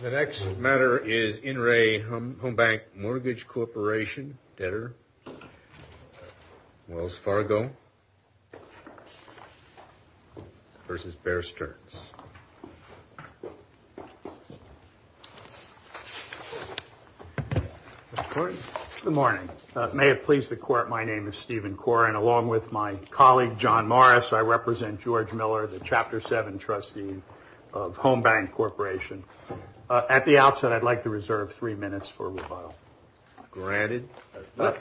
The next matter is In Re Home Bank Mortgage Corporation, Debtor, Wells Fargo versus Bear Stearns. Good morning. May it please the court, my name is Stephen Corr and along with my colleague John Morris, I represent George Miller, the Chapter 7 Trustee of Home Bank Corporation. At the outset, I'd like to reserve three minutes for rebuttal. Granted.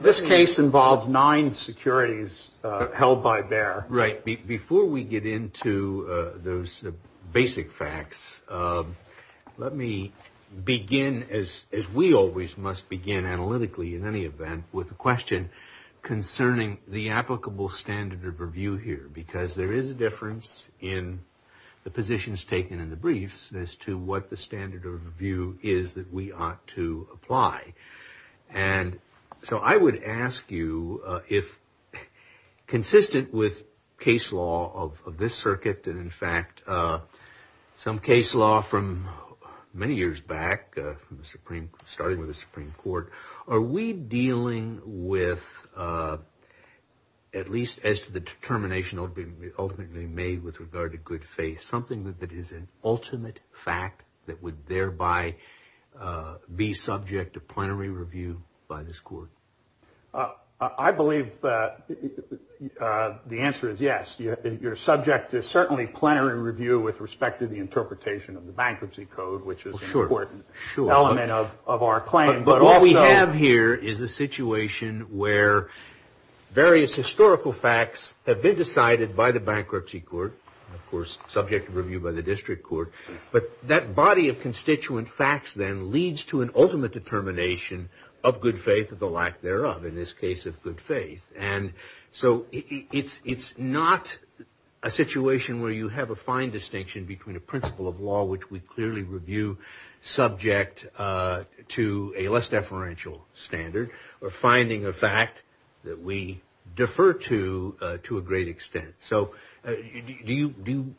This case involves nine securities held by Bear. Right. Before we get into those basic facts, let me begin, as we always must begin analytically in any event, with a question concerning the applicable standard of review here, because there is a difference in the positions taken in the briefs as to what the standard of review is that we ought to apply. And so I would ask you if consistent with case law of this circuit, and in fact some case law from many years back, starting with the Supreme Court, are we dealing with, at least as to the determination ultimately made with regard to good faith, something that is an ultimate fact that would thereby be subject to plenary review by this court? I believe the answer is yes. You're subject to certainly plenary review with respect to the interpretation of the bankruptcy code, which is an important element of our claim. But what we have here is a situation where various historical facts have been decided by the bankruptcy court, of course subject to review by the district court. But that body of constituent facts then leads to an ultimate determination of good faith or the lack thereof, in this case of good faith. And so it's not a situation where you have a fine distinction between a principle of law, which we clearly review subject to a less deferential standard, or finding a fact that we defer to to a great extent. So do you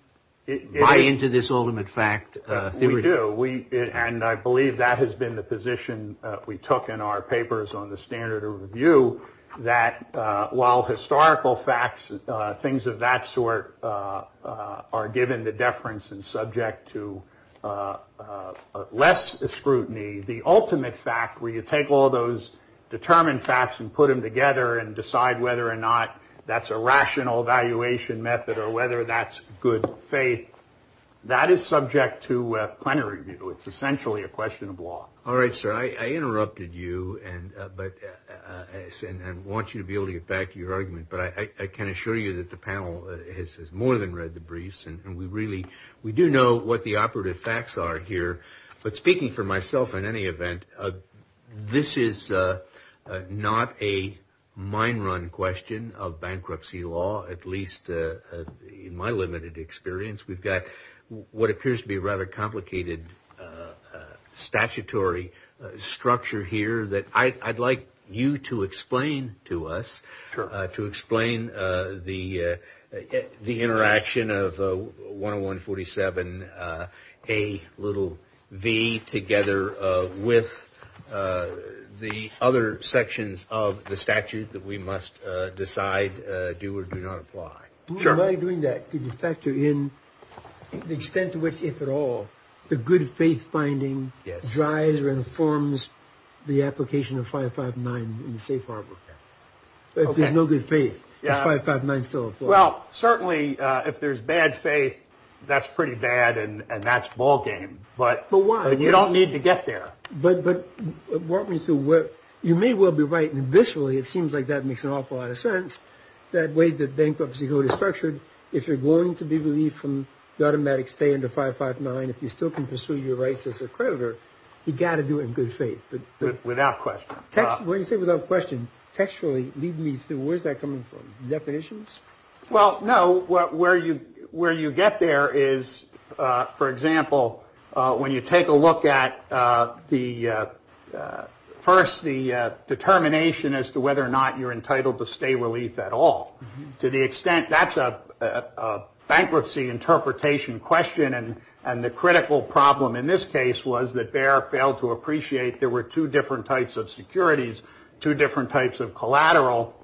buy into this ultimate fact theory? We do. And I believe that has been the position we took in our papers on the standard of review, that while historical facts, things of that sort, are given the deference and subject to less scrutiny, the ultimate fact where you take all those determined facts and put them together and decide whether or not that's a rational evaluation method or whether that's good faith, that is subject to plenary review. It's essentially a question of law. All right, sir. I interrupted you and want you to be able to get back to your argument, but I can assure you that the panel has more than read the briefs, and we really do know what the operative facts are here. But speaking for myself, in any event, this is not a mine run question of bankruptcy law, at least in my limited experience. We've got what appears to be a rather complicated statutory structure here that I'd like you to explain to us, to explain the interaction of 101-47-A-v together with the other sections of the statute that we must decide do or do not apply. Sure. By doing that, could you factor in the extent to which, if at all, the good faith finding drives or informs the application of 559 in the safe harbor? If there's no good faith, is 559 still a flaw? Well, certainly, if there's bad faith, that's pretty bad and that's ballgame. But why? You don't need to get there. But walk me through. You may well be right. Visually, it seems like that makes an awful lot of sense. That way the bankruptcy code is structured, if you're going to be relieved from the automatic stay under 559, if you still can pursue your rights as a creditor, you've got to do it in good faith. Without question. When you say without question, textually, lead me through. Where's that coming from? Definitions? Well, no. Where you get there is, for example, when you take a look at, first, the determination as to whether or not you're entitled to stay relief at all. That's a bankruptcy interpretation question. And the critical problem in this case was that Bayer failed to appreciate there were two different types of securities, two different types of collateral,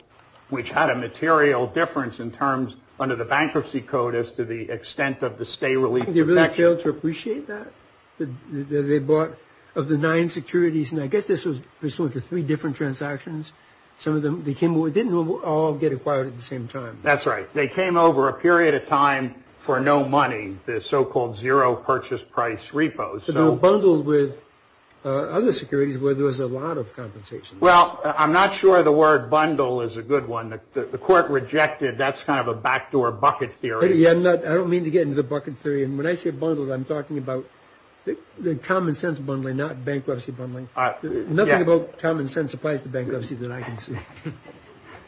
which had a material difference in terms, under the bankruptcy code, as to the extent of the stay relief protection. They really failed to appreciate that? They bought, of the nine securities, and I guess this was pursuant to three different transactions, some of them didn't all get acquired at the same time. That's right. They came over a period of time for no money, the so-called zero purchase price repo. So they were bundled with other securities where there was a lot of compensation. Well, I'm not sure the word bundle is a good one. The court rejected. That's kind of a backdoor bucket theory. I don't mean to get into the bucket theory. And when I say bundled, I'm talking about the common sense bundling, not bankruptcy bundling. Nothing about common sense applies to bankruptcy that I can see.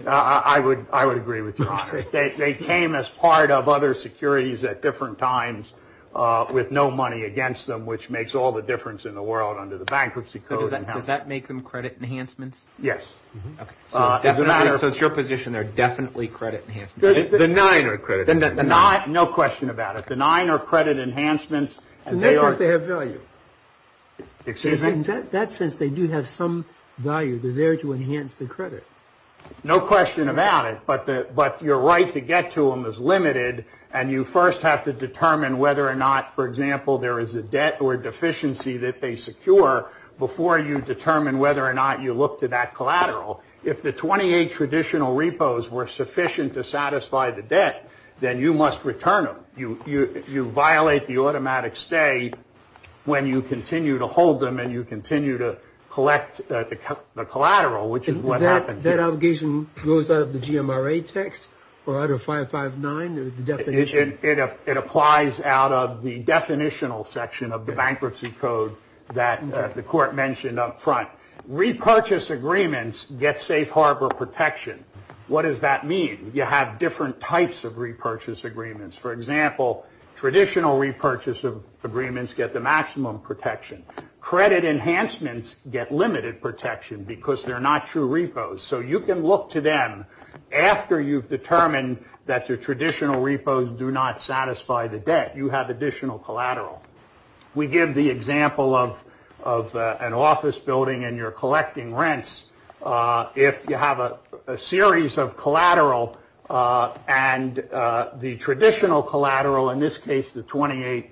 I would agree with you on it. They came as part of other securities at different times with no money against them, which makes all the difference in the world under the bankruptcy code. Does that make them credit enhancements? Yes. So it's your position they're definitely credit enhancements? The nine are credit enhancements. No question about it. The nine are credit enhancements. Unless they have value. In that sense, they do have some value. They're there to enhance the credit. No question about it. But your right to get to them is limited. And you first have to determine whether or not, for example, there is a debt or deficiency that they secure before you determine whether or not you look to that collateral. If the 28 traditional repos were sufficient to satisfy the debt, then you must return them. You violate the automatic stay when you continue to hold them and you continue to collect the collateral, which is what happens. That obligation goes out of the GMRA text or out of 559, the definition? It applies out of the definitional section of the bankruptcy code that the court mentioned up front. Repurchase agreements get safe harbor protection. What does that mean? You have different types of repurchase agreements. For example, traditional repurchase agreements get the maximum protection. Credit enhancements get limited protection because they're not true repos. So you can look to them after you've determined that your traditional repos do not satisfy the debt. You have additional collateral. We give the example of an office building and you're collecting rents. If you have a series of collateral and the traditional collateral, in this case the 28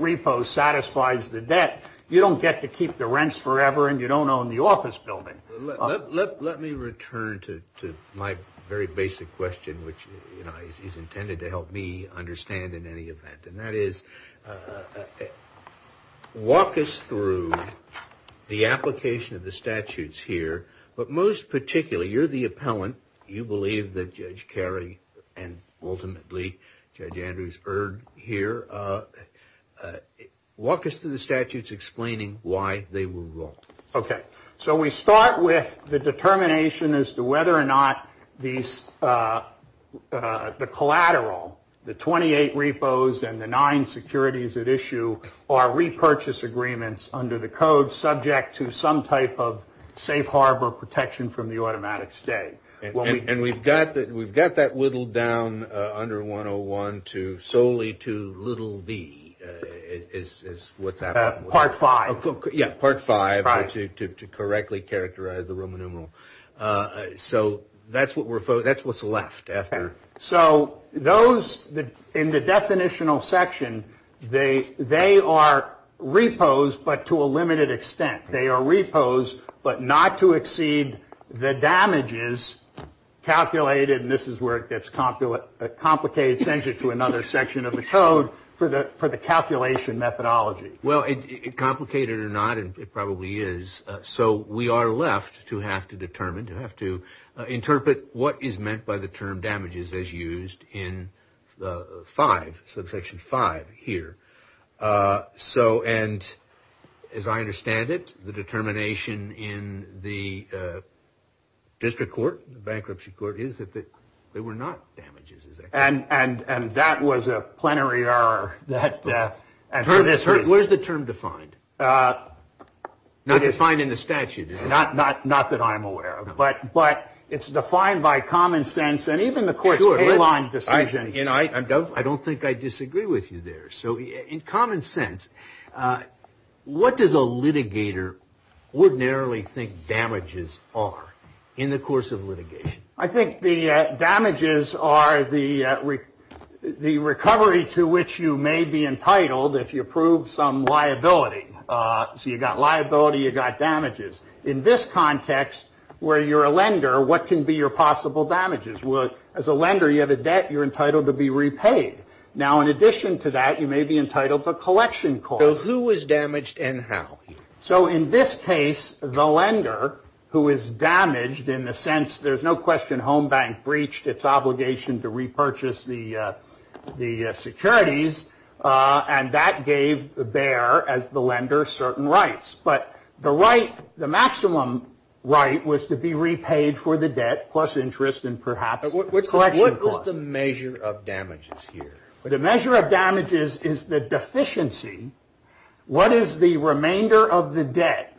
repos, satisfies the debt, you don't get to keep the rents forever and you don't own the office building. Let me return to my very basic question, which is intended to help me understand in any event. And that is, walk us through the application of the statutes here. But most particularly, you're the appellant. You believe that Judge Carey and ultimately Judge Andrews erred here. Walk us through the statutes explaining why they were wrong. So we start with the determination as to whether or not the collateral, the 28 repos, and the nine securities at issue are repurchase agreements under the code, subject to some type of safe harbor protection from the automatic state. And we've got that whittled down under 101 solely to little v is what's happening. Part five. Part five to correctly characterize the Roman numeral. So that's what's left after. So those in the definitional section, they are repos but to a limited extent. They are repos but not to exceed the damages calculated, and this is where it gets complicated, sends you to another section of the code for the calculation methodology. Well, complicated or not, it probably is. So we are left to have to determine, to have to interpret what is meant by the term damages as used in the five, subsection five here. And as I understand it, the determination in the district court, the bankruptcy court, is that they were not damages. And that was a plenary error. Where is the term defined? Not defined in the statute. Not that I'm aware of. But it's defined by common sense. And even the court's baseline decision. I don't think I disagree with you there. So in common sense, what does a litigator ordinarily think damages are in the course of litigation? I think the damages are the recovery to which you may be entitled if you prove some liability. So you got liability, you got damages. In this context, where you're a lender, what can be your possible damages? Well, as a lender, you have a debt you're entitled to be repaid. Now, in addition to that, you may be entitled to collection costs. So who is damaged and how? So in this case, the lender, who is damaged in the sense, there's no question, Home Bank breached its obligation to repurchase the securities. And that gave Bayer, as the lender, certain rights. But the right, the maximum right, was to be repaid for the debt plus interest and perhaps collection costs. What's the measure of damages here? The measure of damages is the deficiency. What is the remainder of the debt?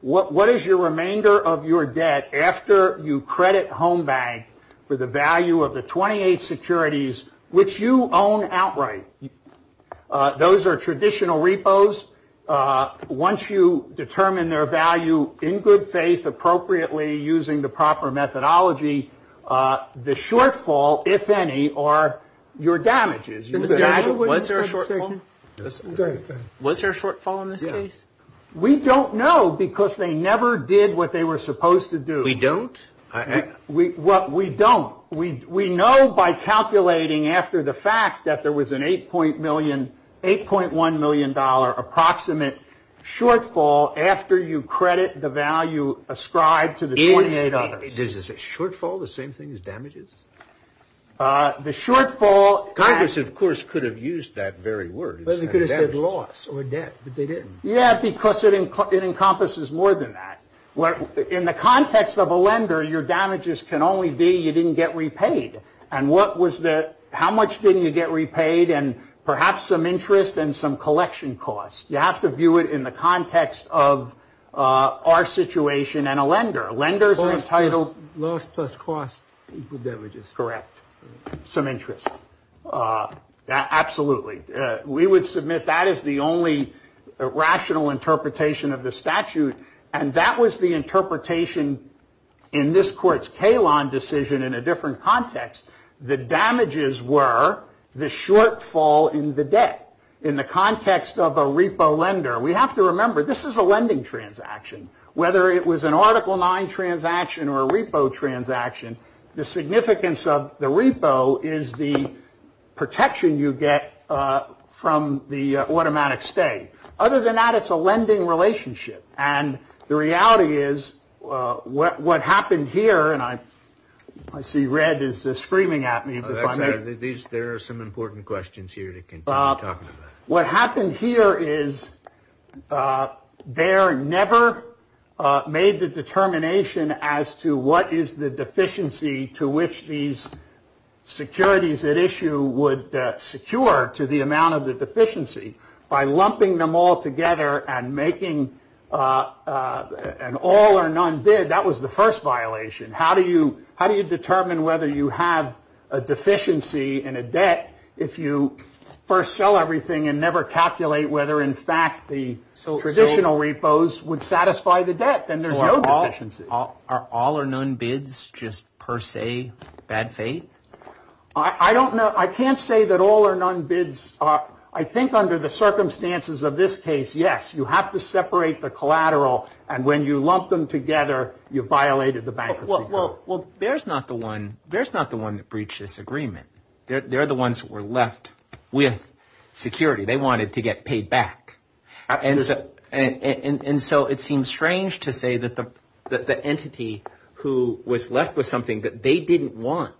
What is your remainder of your debt after you credit Home Bank for the value of the 28 securities which you own outright? Those are traditional repos. Once you determine their value in good faith, appropriately, using the proper methodology, the shortfall, if any, are your damages. Was there a shortfall? Was there a shortfall in this case? We don't know because they never did what they were supposed to do. We don't? We don't. We know by calculating after the fact that there was an $8.1 million approximate shortfall after you credit the value ascribed to the 28 others. Is a shortfall the same thing as damages? The shortfall. Congress, of course, could have used that very word. They could have said loss or debt, but they didn't. Yeah, because it encompasses more than that. In the context of a lender, your damages can only be you didn't get repaid. And what was the, how much didn't you get repaid and perhaps some interest and some collection costs? You have to view it in the context of our situation and a lender. Lenders are entitled. Loss plus cost equals damages. Correct. Some interest. Absolutely. We would submit that as the only rational interpretation of the statute. And that was the interpretation in this court's Kahlon decision in a different context. The damages were the shortfall in the debt. In the context of a repo lender, we have to remember this is a lending transaction. Whether it was an article nine transaction or a repo transaction. The significance of the repo is the protection you get from the automatic stay. Other than that, it's a lending relationship. And the reality is what happened here. And I see red is screaming at me. There are some important questions here. What happened here is there never made the determination as to what is the deficiency to which these securities at issue would secure to the amount of the deficiency. By lumping them all together and making an all or none bid. That was the first violation. How do you determine whether you have a deficiency in a debt if you first sell everything and never calculate whether, in fact, the traditional repos would satisfy the debt? Then there's no deficiency. Are all or none bids just per se bad fate? I don't know. I can't say that all or none bids are. I think under the circumstances of this case, yes. You have to separate the collateral. And when you lump them together, you violated the bankruptcy. Well, there's not the one. There's not the one that breached this agreement. They're the ones that were left with security. They wanted to get paid back. And so it seems strange to say that the entity who was left with something that they didn't want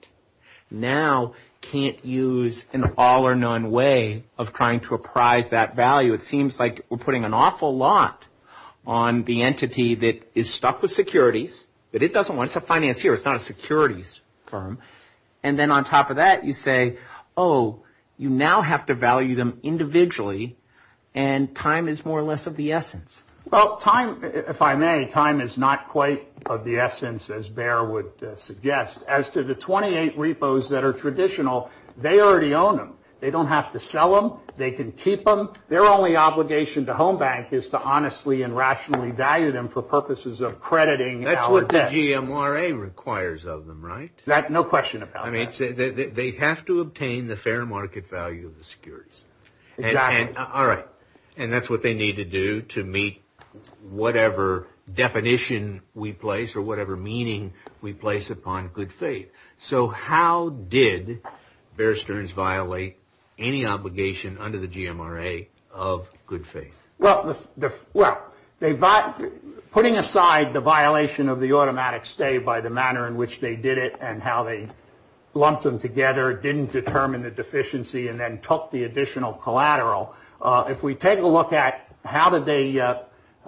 now can't use an all or none way of trying to apprise that value. It seems like we're putting an awful lot on the entity that is stuck with securities, that it doesn't want. It's a financier. It's not a securities firm. And then on top of that, you say, oh, you now have to value them individually, and time is more or less of the essence. Well, time, if I may, time is not quite of the essence, as Bear would suggest. As to the 28 repos that are traditional, they already own them. They don't have to sell them. They can keep them. Their only obligation to Home Bank is to honestly and rationally value them for purposes of crediting. That's what the GMRA requires of them, right? No question about that. They have to obtain the fair market value of the securities. Exactly. All right. And that's what they need to do to meet whatever definition we place or whatever meaning we place upon good faith. So how did Bear Stearns violate any obligation under the GMRA of good faith? Well, putting aside the violation of the automatic stay by the manner in which they did it and how they lumped them together didn't determine the deficiency and then took the additional collateral, if we take a look at how did they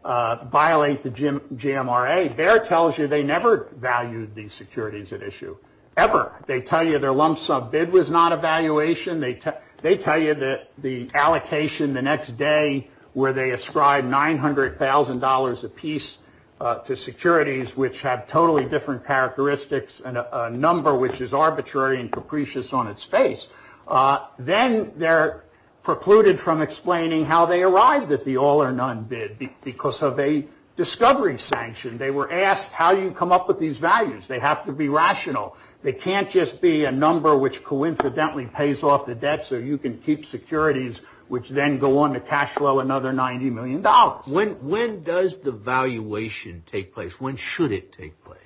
violate the GMRA, Bear tells you they never valued these securities at issue, ever. They tell you their lump sum bid was not a valuation. They tell you that the allocation the next day where they ascribe $900,000 apiece to securities, which have totally different characteristics and a number which is arbitrary and capricious on its face, then they're precluded from explaining how they arrived at the all or none bid because of a discovery sanction. They were asked how you come up with these values. They have to be rational. They can't just be a number which coincidentally pays off the debt so you can keep securities, which then go on to cash flow another $90 million. When does the valuation take place? When should it take place?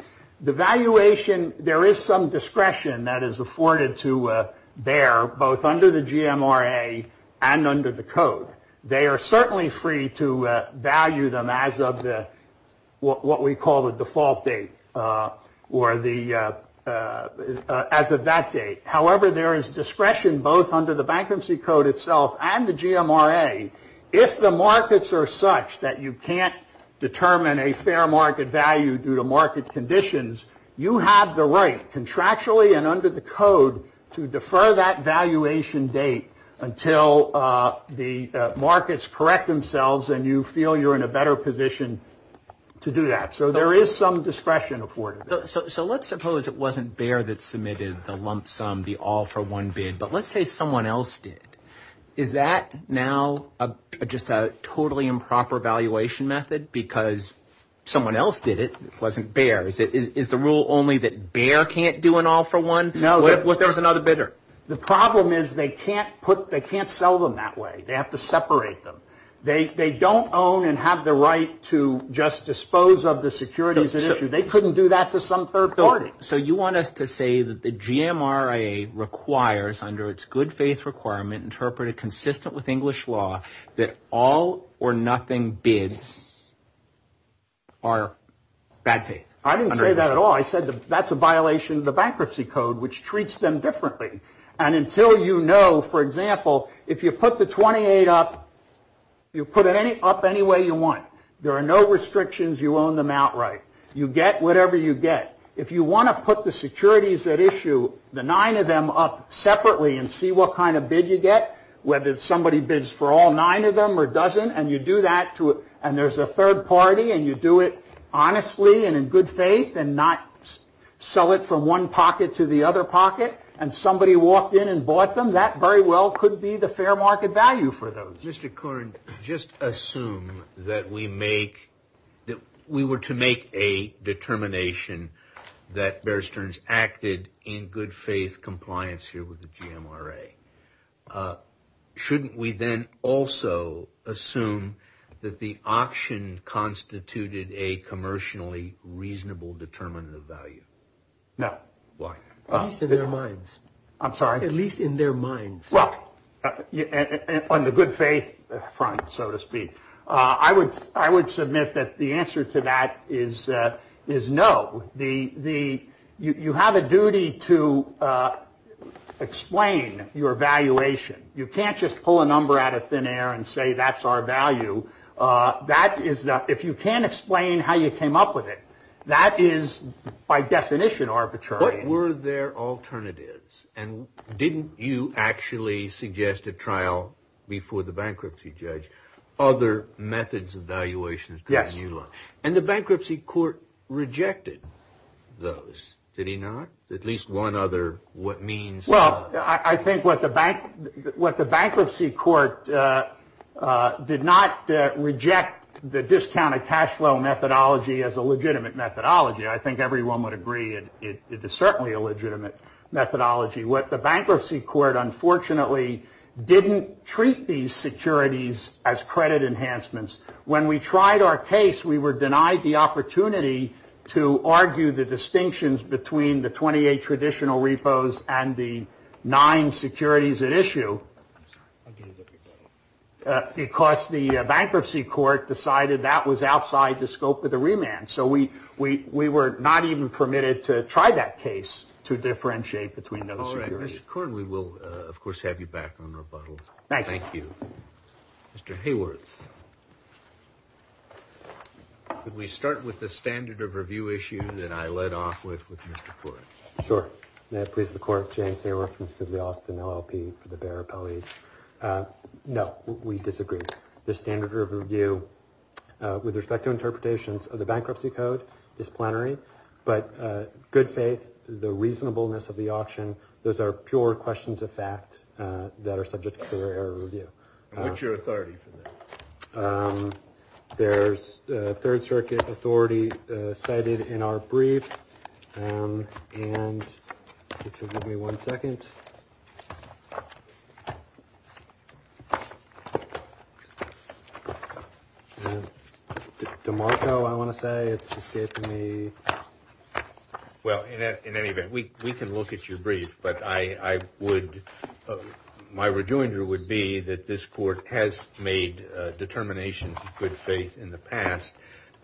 The valuation, there is some discretion that is afforded to Bear both under the GMRA and under the code. They are certainly free to value them as of what we call the default date or as of that date. However, there is discretion both under the bankruptcy code itself and the GMRA. If the markets are such that you can't determine a fair market value due to market conditions, you have the right contractually and under the code to defer that valuation date until the markets correct themselves and you feel you're in a better position to do that. So there is some discretion afforded. So let's suppose it wasn't Bear that submitted the lump sum, the all for one bid, but let's say someone else did. Is that now just a totally improper valuation method because someone else did it? It wasn't Bear. Is the rule only that Bear can't do an all for one? What if there was another bidder? The problem is they can't sell them that way. They have to separate them. They don't own and have the right to just dispose of the securities at issue. They couldn't do that to some third party. So you want us to say that the GMRA requires under its good faith requirement interpreted consistent with English law that all or nothing bids are bad faith? I didn't say that at all. I said that's a violation of the bankruptcy code, which treats them differently. And until you know, for example, if you put the 28 up, you put it up any way you want. There are no restrictions. You own them outright. You get whatever you get. If you want to put the securities at issue, the nine of them up separately and see what kind of bid you get, whether somebody bids for all nine of them or doesn't, and you do that, and there's a third party, and you do it honestly and in good faith and not sell it from one pocket to the other pocket, and somebody walked in and bought them, that very well could be the fair market value for those. Mr. Corn, just assume that we make that we were to make a determination that Bear Stearns acted in good faith compliance here with the GMRA. Shouldn't we then also assume that the auction constituted a commercially reasonable determinant of value? No. Why? Their minds. I'm sorry. At least in their minds. Well, on the good faith front, so to speak, I would submit that the answer to that is no. You have a duty to explain your valuation. You can't just pull a number out of thin air and say that's our value. If you can't explain how you came up with it, that is by definition arbitrary. What were their alternatives? And didn't you actually suggest a trial before the bankruptcy judge, other methods of valuation? Yes. And the bankruptcy court rejected those, did he not? At least one other what means. Well, I think what the bankruptcy court did not reject the discounted cash flow methodology as a legitimate methodology. I think everyone would agree it is certainly a legitimate methodology. What the bankruptcy court unfortunately didn't treat these securities as credit enhancements. When we tried our case, we were denied the opportunity to argue the distinctions between the 28 traditional repos and the nine securities at issue. Because the bankruptcy court decided that was outside the scope of the remand. So we were not even permitted to try that case to differentiate between those securities. All right. Mr. Cord, we will, of course, have you back on rebuttal. Thank you. Thank you. Mr. Hayworth. Could we start with the standard of review issue that I led off with with Mr. Cord? Sure. May it please the court. James Hayworth from Civilian Austin LLP for the Bexar Appellees. No, we disagree. The standard of review with respect to interpretations of the bankruptcy code is plenary. But good faith, the reasonableness of the auction, those are pure questions of fact that are subject to error review. What's your authority for that? There's a Third Circuit authority cited in our brief. And if you'll give me one second. DeMarco, I want to say it's escaping me. Well, in any event, we can look at your brief. But my rejoinder would be that this court has made determinations of good faith in the past,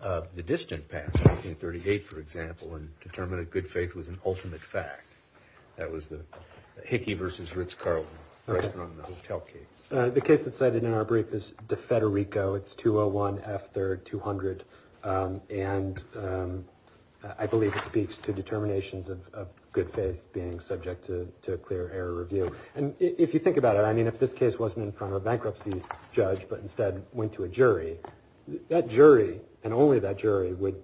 the distant past, 1938, for example, and determined that good faith was an ultimate fact. That was the Hickey versus Ritz-Carlton question on the hotel case. The case that's cited in our brief is DeFederico. It's 201 F. 3rd 200. And I believe it speaks to determinations of good faith being subject to clear error review. And if you think about it, I mean, if this case wasn't in front of a bankruptcy judge but instead went to a jury, that jury and only that jury would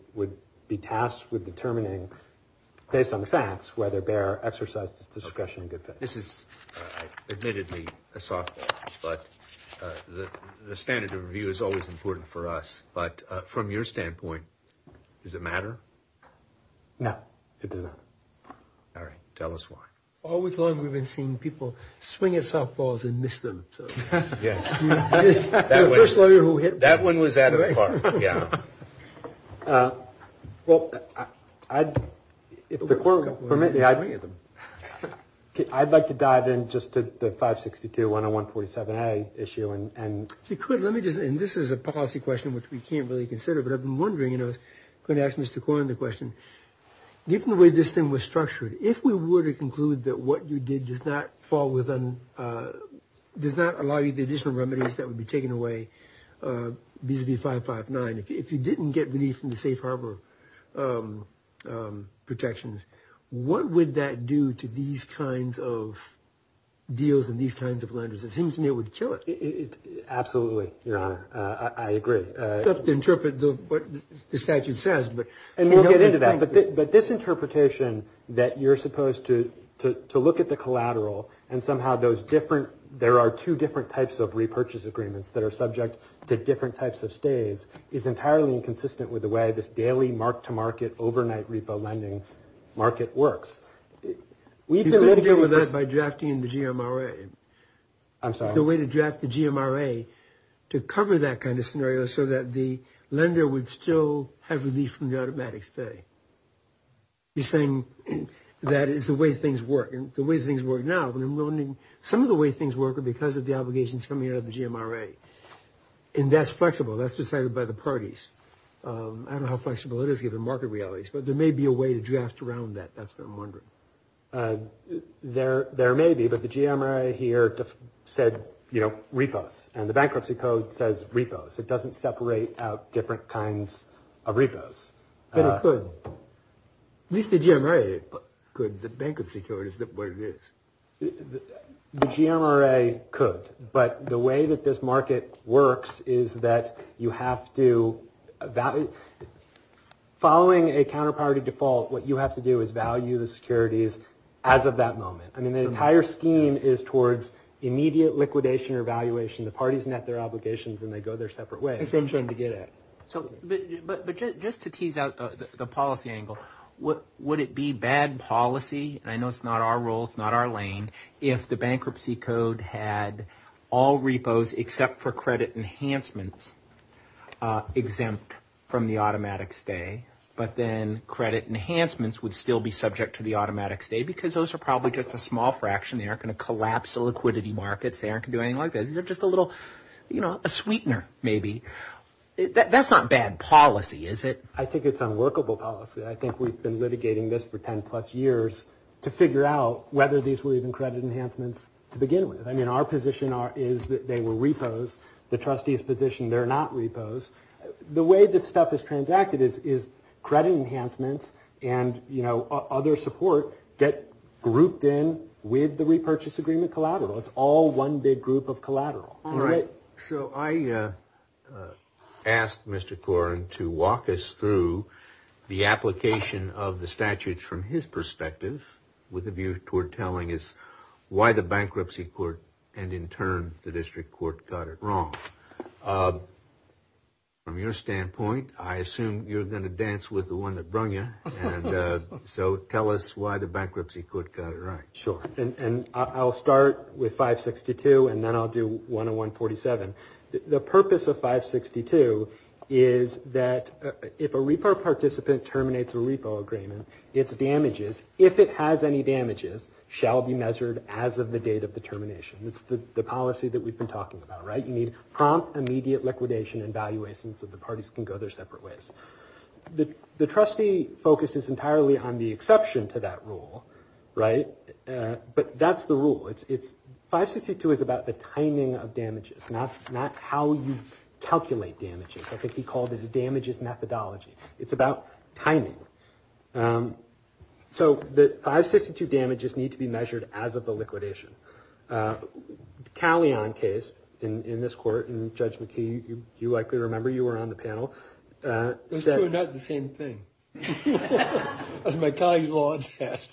be tasked with determining based on the facts whether Bexar exercised discretion in good faith. This is admittedly a softball, but the standard of review is always important for us. But from your standpoint, does it matter? No, it doesn't. All right. Tell us why. All week long, we've been seeing people swing at softballs and miss them. Yes. That one was Adam Clark. Yeah. Well, I'd like to dive in just to the 562-10147-A issue. And if you could, let me just. And this is a policy question which we can't really consider. But I've been wondering, you know, I'm going to ask Mr. Kwon the question. Given the way this thing was structured, if we were to conclude that what you did does not fall within, does not allow you the additional remedies that would be taken away vis-a-vis 559, if you didn't get relief from the safe harbor protections, what would that do to these kinds of deals and these kinds of lenders? It seems to me it would kill it. Absolutely, Your Honor. I agree. It's tough to interpret what the statute says. And we'll get into that. But this interpretation that you're supposed to look at the collateral and somehow there are two different types of repurchase agreements that are subject to different types of stays is entirely inconsistent with the way this daily mark-to-market overnight repo lending market works. You could get rid of that by drafting the GMRA. I'm sorry? The way to draft the GMRA to cover that kind of scenario so that the lender would still have relief from the automatic stay. You're saying that is the way things work. The way things work now. Some of the way things work are because of the obligations coming out of the GMRA. And that's flexible. That's decided by the parties. I don't know how flexible it is given market realities. But there may be a way to draft around that. That's what I'm wondering. There may be. But the GMRA here said, you know, repos. And the bankruptcy code says repos. It doesn't separate out different kinds of repos. But it could. At least the GMRA could. The bankruptcy code is what it is. The GMRA could. But the way that this market works is that you have to value. Following a counterparty default, what you have to do is value the securities as of that moment. I mean, the entire scheme is towards immediate liquidation or valuation. The parties net their obligations, and they go their separate ways. Same thing to get at. But just to tease out the policy angle, would it be bad policy, and I know it's not our role, it's not our lane, if the bankruptcy code had all repos except for credit enhancements exempt from the automatic stay, but then credit enhancements would still be subject to the automatic stay because those are probably just a small fraction. They aren't going to collapse the liquidity markets. They aren't going to do anything like that. They're just a little, you know, a sweetener maybe. That's not bad policy, is it? I think it's unworkable policy. I think we've been litigating this for 10-plus years to figure out whether these were even credit enhancements to begin with. I mean, our position is that they were repos. The trustees' position, they're not repos. The way this stuff is transacted is credit enhancements and, you know, other support get grouped in with the repurchase agreement collateral. It's all one big group of collateral. All right. So I asked Mr. Corrin to walk us through the application of the statutes from his perspective with a view toward telling us why the bankruptcy court and, in turn, the district court got it wrong. From your standpoint, I assume you're going to dance with the one that brung you. So tell us why the bankruptcy court got it right. Sure. And I'll start with 562, and then I'll do 101-47. The purpose of 562 is that if a repo participant terminates a repo agreement, its damages, if it has any damages, shall be measured as of the date of the termination. It's the policy that we've been talking about, right? You need prompt, immediate liquidation and valuation so the parties can go their separate ways. The trustee focuses entirely on the exception to that rule, right? But that's the rule. 562 is about the timing of damages, not how you calculate damages. I think he called it a damages methodology. It's about timing. So the 562 damages need to be measured as of the liquidation. The Callion case in this court, and Judge McKee, you likely remember, you were on the panel. Those two are not the same thing. That's my colleague's law test.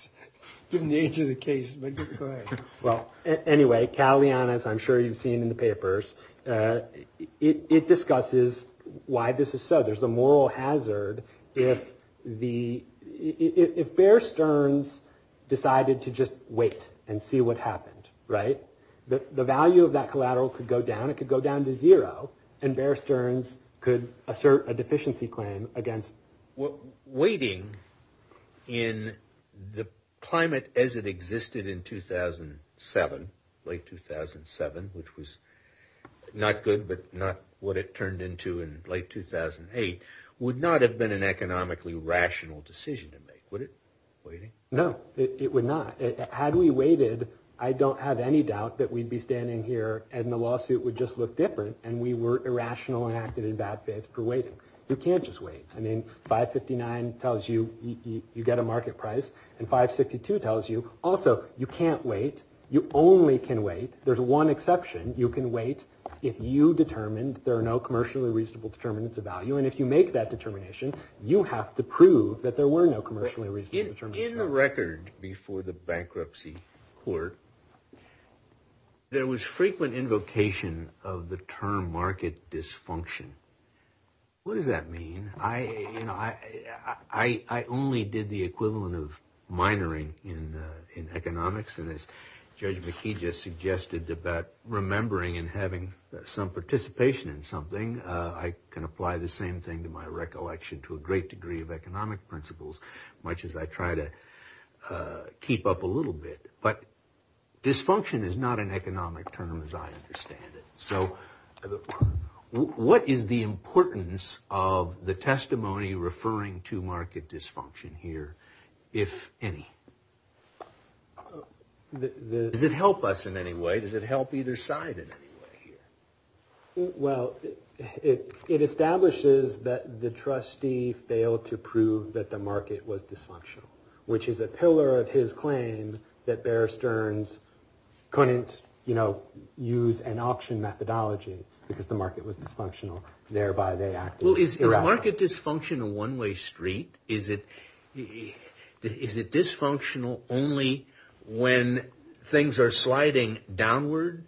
Didn't answer the case, but you're correct. Well, anyway, Callion, as I'm sure you've seen in the papers, it discusses why this is so. There's a moral hazard if Bear Stearns decided to just wait and see what happened, right? The value of that collateral could go down. It could go down to zero, and Bear Stearns could assert a deficiency claim against... Waiting in the climate as it existed in 2007, late 2007, which was not good, but not what it turned into in late 2008, would not have been an economically rational decision to make, would it, waiting? No, it would not. Had we waited, I don't have any doubt that we'd be standing here and the lawsuit would just look different, and we were irrational and acted in bad faith for waiting. You can't just wait. I mean, 559 tells you you get a market price, and 562 tells you, also, you can't wait. You only can wait. There's one exception. You can wait if you determine there are no commercially reasonable determinants of value, and if you make that determination, you have to prove that there were no commercially reasonable determinants of value. In the record before the bankruptcy court, there was frequent invocation of the term market dysfunction. What does that mean? You know, I only did the equivalent of minoring in economics, and as Judge McKee just suggested about remembering and having some participation in something, I can apply the same thing to my recollection to a great degree of economic principles, much as I try to keep up a little bit, but dysfunction is not an economic term as I understand it. So what is the importance of the testimony referring to market dysfunction here, if any? Does it help us in any way? Does it help either side in any way here? Well, it establishes that the trustee failed to prove that the market was dysfunctional, which is a pillar of his claim that Bear Stearns couldn't, you know, use an option methodology because the market was dysfunctional, thereby they acted irrationally. Well, is market dysfunction a one-way street? Is it dysfunctional only when things are sliding downward?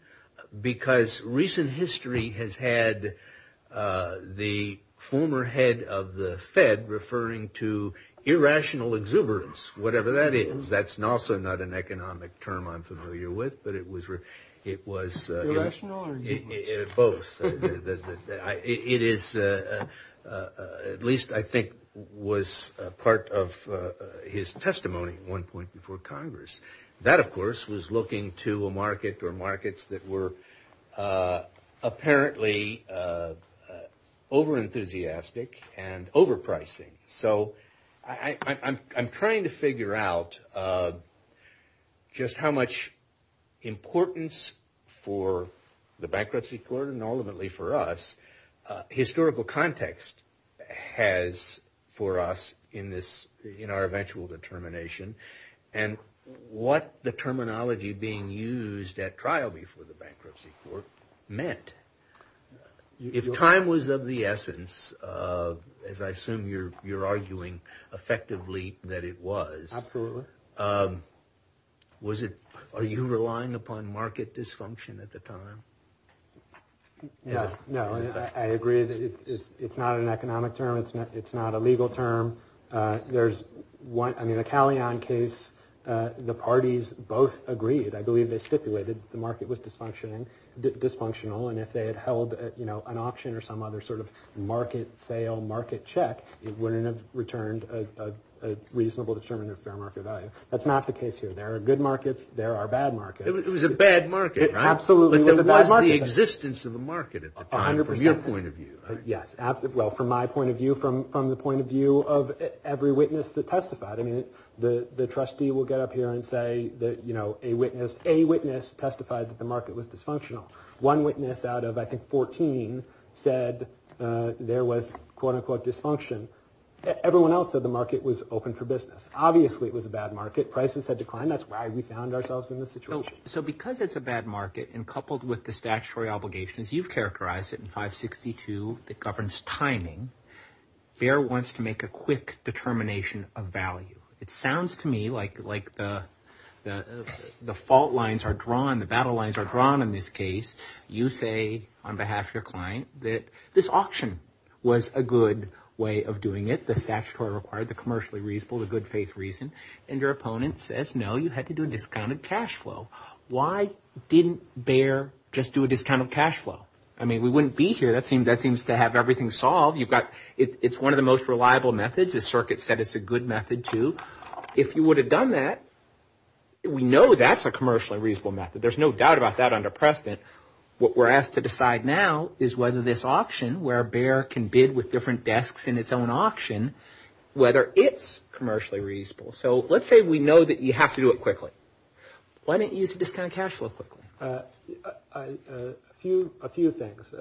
Because recent history has had the former head of the Fed referring to irrational exuberance, whatever that is. That's also not an economic term I'm familiar with, but it was... Irrational or exuberance? Both. It is, at least I think was part of his testimony at one point before Congress. That, of course, was looking to a market or markets that were apparently overenthusiastic and overpricing. So I'm trying to figure out just how much importance for the bankruptcy court and ultimately for us, historical context has for us in our eventual determination. And what the terminology being used at trial before the bankruptcy court meant. If time was of the essence, as I assume you're arguing effectively that it was. Absolutely. Was it, are you relying upon market dysfunction at the time? No, I agree that it's not an economic term, it's not a legal term. There's one, I mean the Callion case, the parties both agreed, I believe they stipulated the market was dysfunctional and if they had held an auction or some other sort of market sale, market check, it wouldn't have returned a reasonable, determinative fair market value. That's not the case here. There are good markets, there are bad markets. It was a bad market, right? Absolutely. But there was the existence of a market at the time from your point of view, right? Of every witness that testified. I mean the trustee will get up here and say that a witness testified that the market was dysfunctional. One witness out of I think 14 said there was quote unquote dysfunction. Everyone else said the market was open for business. Obviously it was a bad market. Prices had declined, that's why we found ourselves in this situation. So because it's a bad market and coupled with the statutory obligations, you've characterized it in 562 that governs timing. Bayer wants to make a quick determination of value. It sounds to me like the fault lines are drawn, the battle lines are drawn in this case. You say on behalf of your client that this auction was a good way of doing it. The statutory required, the commercially reasonable, the good faith reason and your opponent says no, you had to do a discounted cash flow. Why didn't Bayer just do a discounted cash flow? I mean we wouldn't be here. That seems to have everything solved. It's one of the most reliable methods. The circuit said it's a good method too. If you would have done that, we know that's a commercially reasonable method. There's no doubt about that under precedent. What we're asked to decide now is whether this auction where Bayer can bid with different desks in its own auction, whether it's commercially reasonable. So let's say we know that you have to do it quickly. Why didn't you use a discounted cash flow quickly? A few things.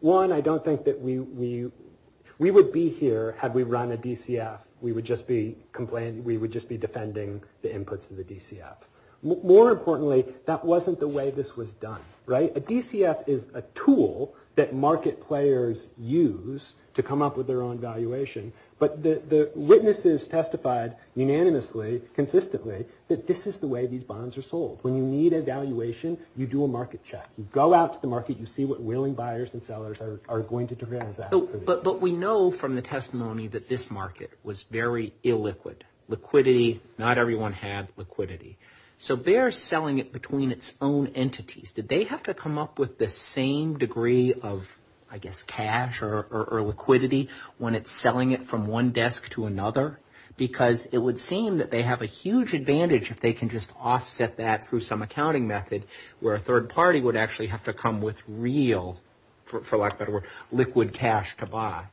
One, I don't think that we would be here had we run a DCF. We would just be defending the inputs of the DCF. More importantly, that wasn't the way this was done. A DCF is a tool that market players use to come up with their own valuation, but the witnesses testified unanimously, consistently, that this is the way these bonds are sold. When you need a valuation, you do a market check. You go out to the market. You see what willing buyers and sellers are going to transact. But we know from the testimony that this market was very illiquid. Liquidity, not everyone had liquidity. So Bayer is selling it between its own entities. Did they have to come up with the same degree of, I guess, cash or liquidity when it's selling it from one desk to another? Because it would seem that they have a huge advantage if they can just offset that through some accounting method where a third party would actually have to come with real, for lack of a better word, liquid cash to buy.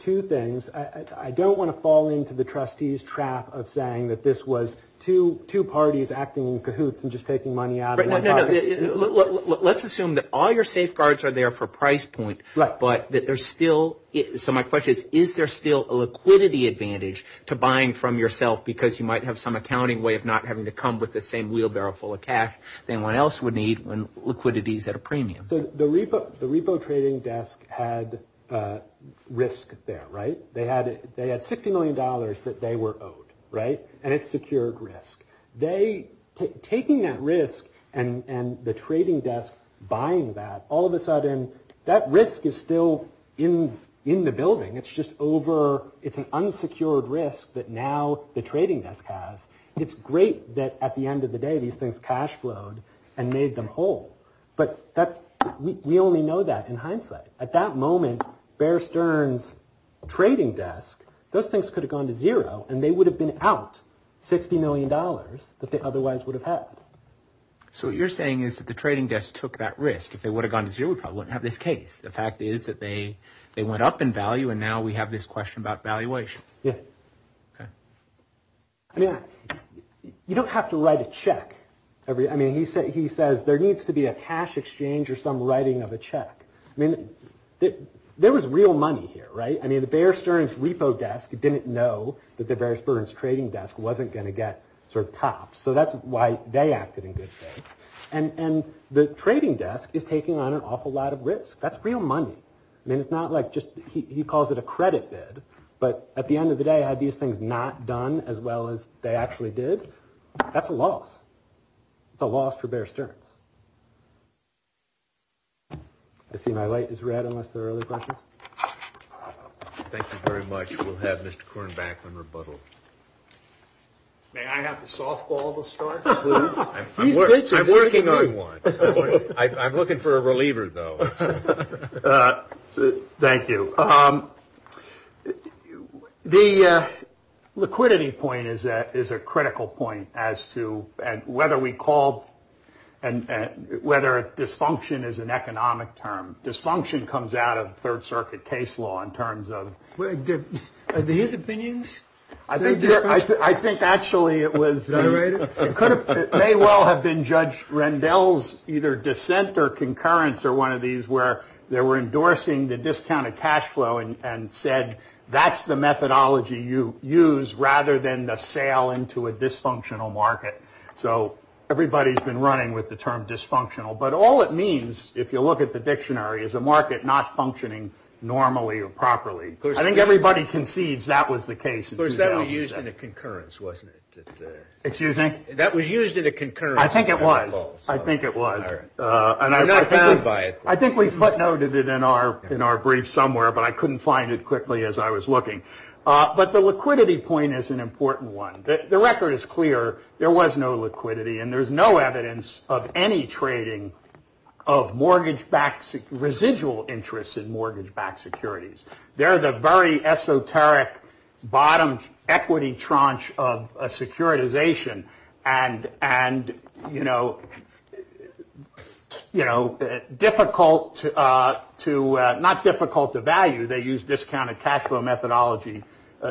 Two things. I don't want to fall into the trustee's trap of saying that this was two parties acting in cahoots and just taking money out of my pocket. Let's assume that all your safeguards are there for price point, but that there's still – so my question is, is there still a liquidity advantage to buying from yourself because you might have some accounting way of not having to come with the same wheelbarrow full of cash than one else would need when liquidity is at a premium? The repo trading desk had risk there, right? They had $60 million that they were owed, right? And it secured risk. They – taking that risk and the trading desk buying that, all of a sudden that risk is still in the building. It's just over – it's an unsecured risk that now the trading desk has. It's great that at the end of the day these things cash flowed and made them whole. But that's – we only know that in hindsight. At that moment, Bear Stearns' trading desk, those things could have gone to zero and they would have been out $60 million that they otherwise would have had. So what you're saying is that the trading desk took that risk. If they would have gone to zero, we probably wouldn't have this case. The fact is that they went up in value and now we have this question about valuation. Yeah. Okay. I mean, you don't have to write a check. I mean, he says there needs to be a cash exchange or some writing of a check. I mean, there was real money here, right? I mean, the Bear Stearns' repo desk didn't know that the Bear Stearns' trading desk wasn't going to get sort of topped. So that's why they acted in good faith. And the trading desk is taking on an awful lot of risk. That's real money. I mean, it's not like just – he calls it a credit bid. But at the end of the day, had these things not done as well as they actually did, that's a loss. It's a loss for Bear Stearns. I see my light is red unless there are other questions. Thank you very much. We'll have Mr. Kornbackman rebuttal. May I have the softball to start, please? I'm working on one. I'm looking for a reliever, though. Thank you. The liquidity point is a critical point as to whether we call – whether dysfunction is an economic term. Dysfunction comes out of Third Circuit case law in terms of – Are these opinions? I think actually it was – May well have been Judge Rendell's either dissent or concurrence or one of these where they were endorsing the discounted cash flow and said, that's the methodology you use rather than the sale into a dysfunctional market. So everybody's been running with the term dysfunctional. But all it means, if you look at the dictionary, is a market not functioning normally or properly. I think everybody concedes that was the case. Of course, that was used in a concurrence, wasn't it? Excuse me? That was used in a concurrence. I think it was. I think it was. I think we footnoted it in our brief somewhere, but I couldn't find it quickly as I was looking. But the liquidity point is an important one. The record is clear. There was no liquidity, and there's no evidence of any trading of mortgage-backed – residual interests in mortgage-backed securities. They're the very esoteric bottom equity tranche of a securitization. And, you know, difficult to – not difficult to value. They use discounted cash flow methodology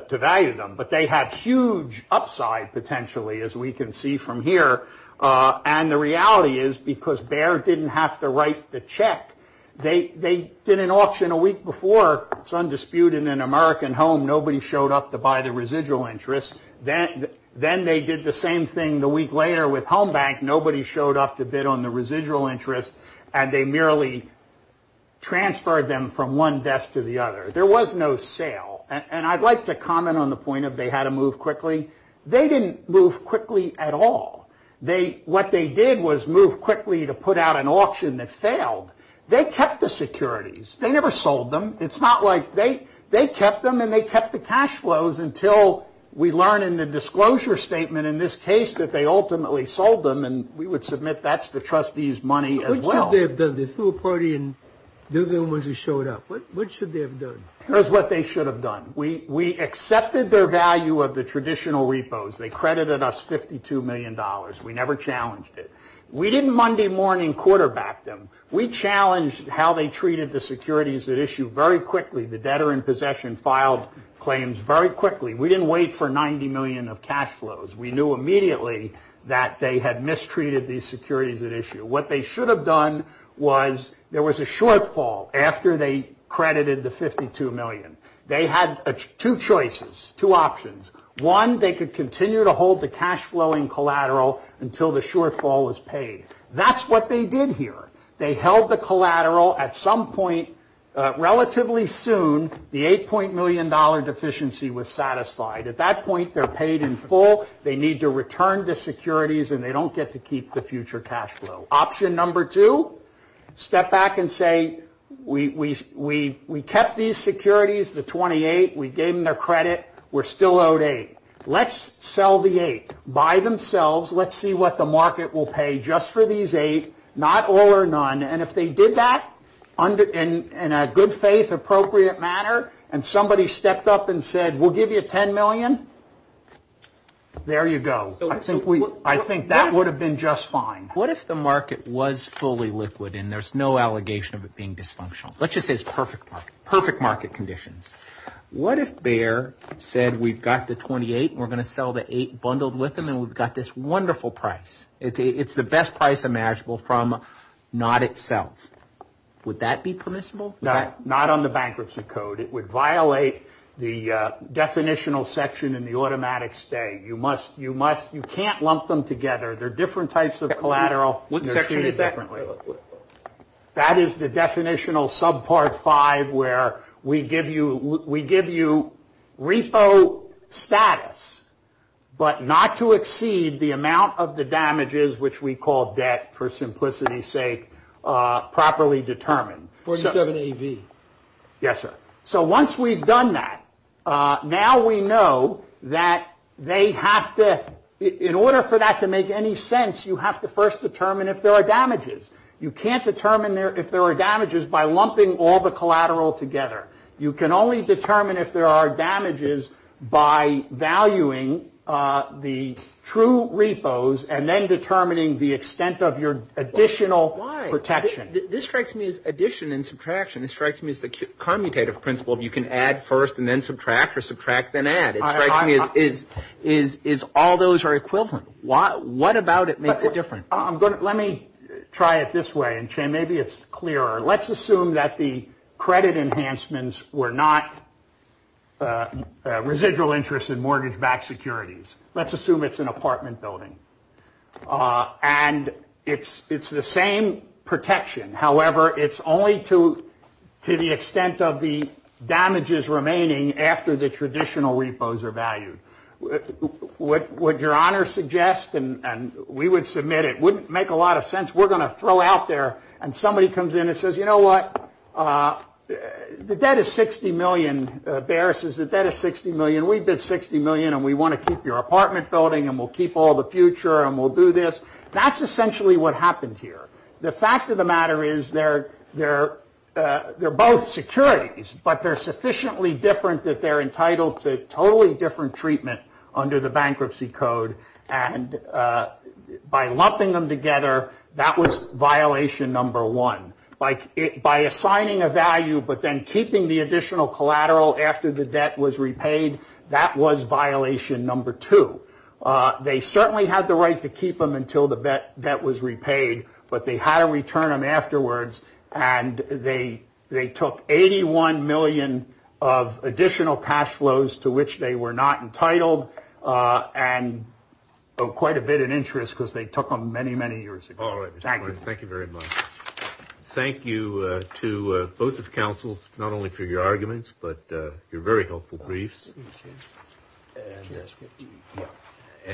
to value them. But they have huge upside, potentially, as we can see from here. And the reality is because Bayer didn't have to write the check. They did an auction a week before. It's undisputed in an American home. Nobody showed up to buy the residual interest. Then they did the same thing the week later with Home Bank. Nobody showed up to bid on the residual interest, and they merely transferred them from one desk to the other. There was no sale. And I'd like to comment on the point of they had to move quickly. They didn't move quickly at all. What they did was move quickly to put out an auction that failed. They kept the securities. They never sold them. It's not like they kept them, and they kept the cash flows, until we learn in the disclosure statement in this case that they ultimately sold them, and we would submit that's the trustees' money as well. What should they have done? They threw a party, and they're the ones who showed up. What should they have done? Here's what they should have done. We accepted their value of the traditional repos. They credited us $52 million. We never challenged it. We didn't Monday morning quarterback them. We challenged how they treated the securities at issue very quickly. The debtor in possession filed claims very quickly. We didn't wait for $90 million of cash flows. We knew immediately that they had mistreated these securities at issue. What they should have done was there was a shortfall after they credited the $52 million. They had two choices, two options. One, they could continue to hold the cash flow in collateral until the shortfall was paid. That's what they did here. They held the collateral. At some point, relatively soon, the $8. million deficiency was satisfied. At that point, they're paid in full. They need to return the securities, and they don't get to keep the future cash flow. Option number two, step back and say, we kept these securities, the 28. We gave them their credit. We're still owed 8. Let's sell the 8 by themselves. Let's see what the market will pay just for these 8, not all or none. And if they did that in a good faith, appropriate manner, and somebody stepped up and said, we'll give you $10 million, there you go. I think that would have been just fine. What if the market was fully liquid, and there's no allegation of it being dysfunctional? Let's just say it's perfect market conditions. What if Bayer said, we've got the 28, and we're going to sell the 8 bundled with them, and we've got this wonderful price? It's the best price imaginable from not itself. Would that be permissible? No, not on the bankruptcy code. It would violate the definitional section in the automatic stay. You can't lump them together. They're different types of collateral. What section is that? That is the definitional subpart 5, where we give you repo status, but not to exceed the amount of the damages, which we call debt for simplicity's sake, properly determined. 47AV. Yes, sir. So once we've done that, now we know that in order for that to make any sense, you have to first determine if there are damages. You can't determine if there are damages by lumping all the collateral together. You can only determine if there are damages by valuing the true repos and then determining the extent of your additional protection. This strikes me as addition and subtraction. It strikes me as the commutative principle of you can add first and then subtract, or subtract then add. It strikes me as all those are equivalent. What about it makes it different? Let me try it this way, and, Shane, maybe it's clearer. Let's assume that the credit enhancements were not residual interest in mortgage-backed securities. Let's assume it's an apartment building, and it's the same protection. However, it's only to the extent of the damages remaining after the traditional repos are valued. Would your honor suggest, and we would submit it, it wouldn't make a lot of sense. We're going to throw out there, and somebody comes in and says, you know what? The debt is $60 million, Barris. The debt is $60 million. We bid $60 million, and we want to keep your apartment building, and we'll keep all the future, and we'll do this. That's essentially what happened here. The fact of the matter is they're both securities, but they're sufficiently different that they're entitled to totally different treatment under the bankruptcy code, and by lumping them together, that was violation number one. By assigning a value but then keeping the additional collateral after the debt was repaid, that was violation number two. They certainly had the right to keep them until the debt was repaid, but they had to return them afterwards, and they took $81 million of additional cash flows to which they were not entitled, and quite a bit in interest because they took them many, many years ago. Thank you. Thank you very much. Thank you to both of the counsels, not only for your arguments, but your very helpful briefs.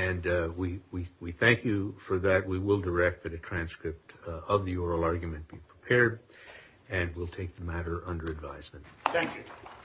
And we thank you for that. We will direct that a transcript of the oral argument be prepared, and we'll take the matter under advisement. Thank you.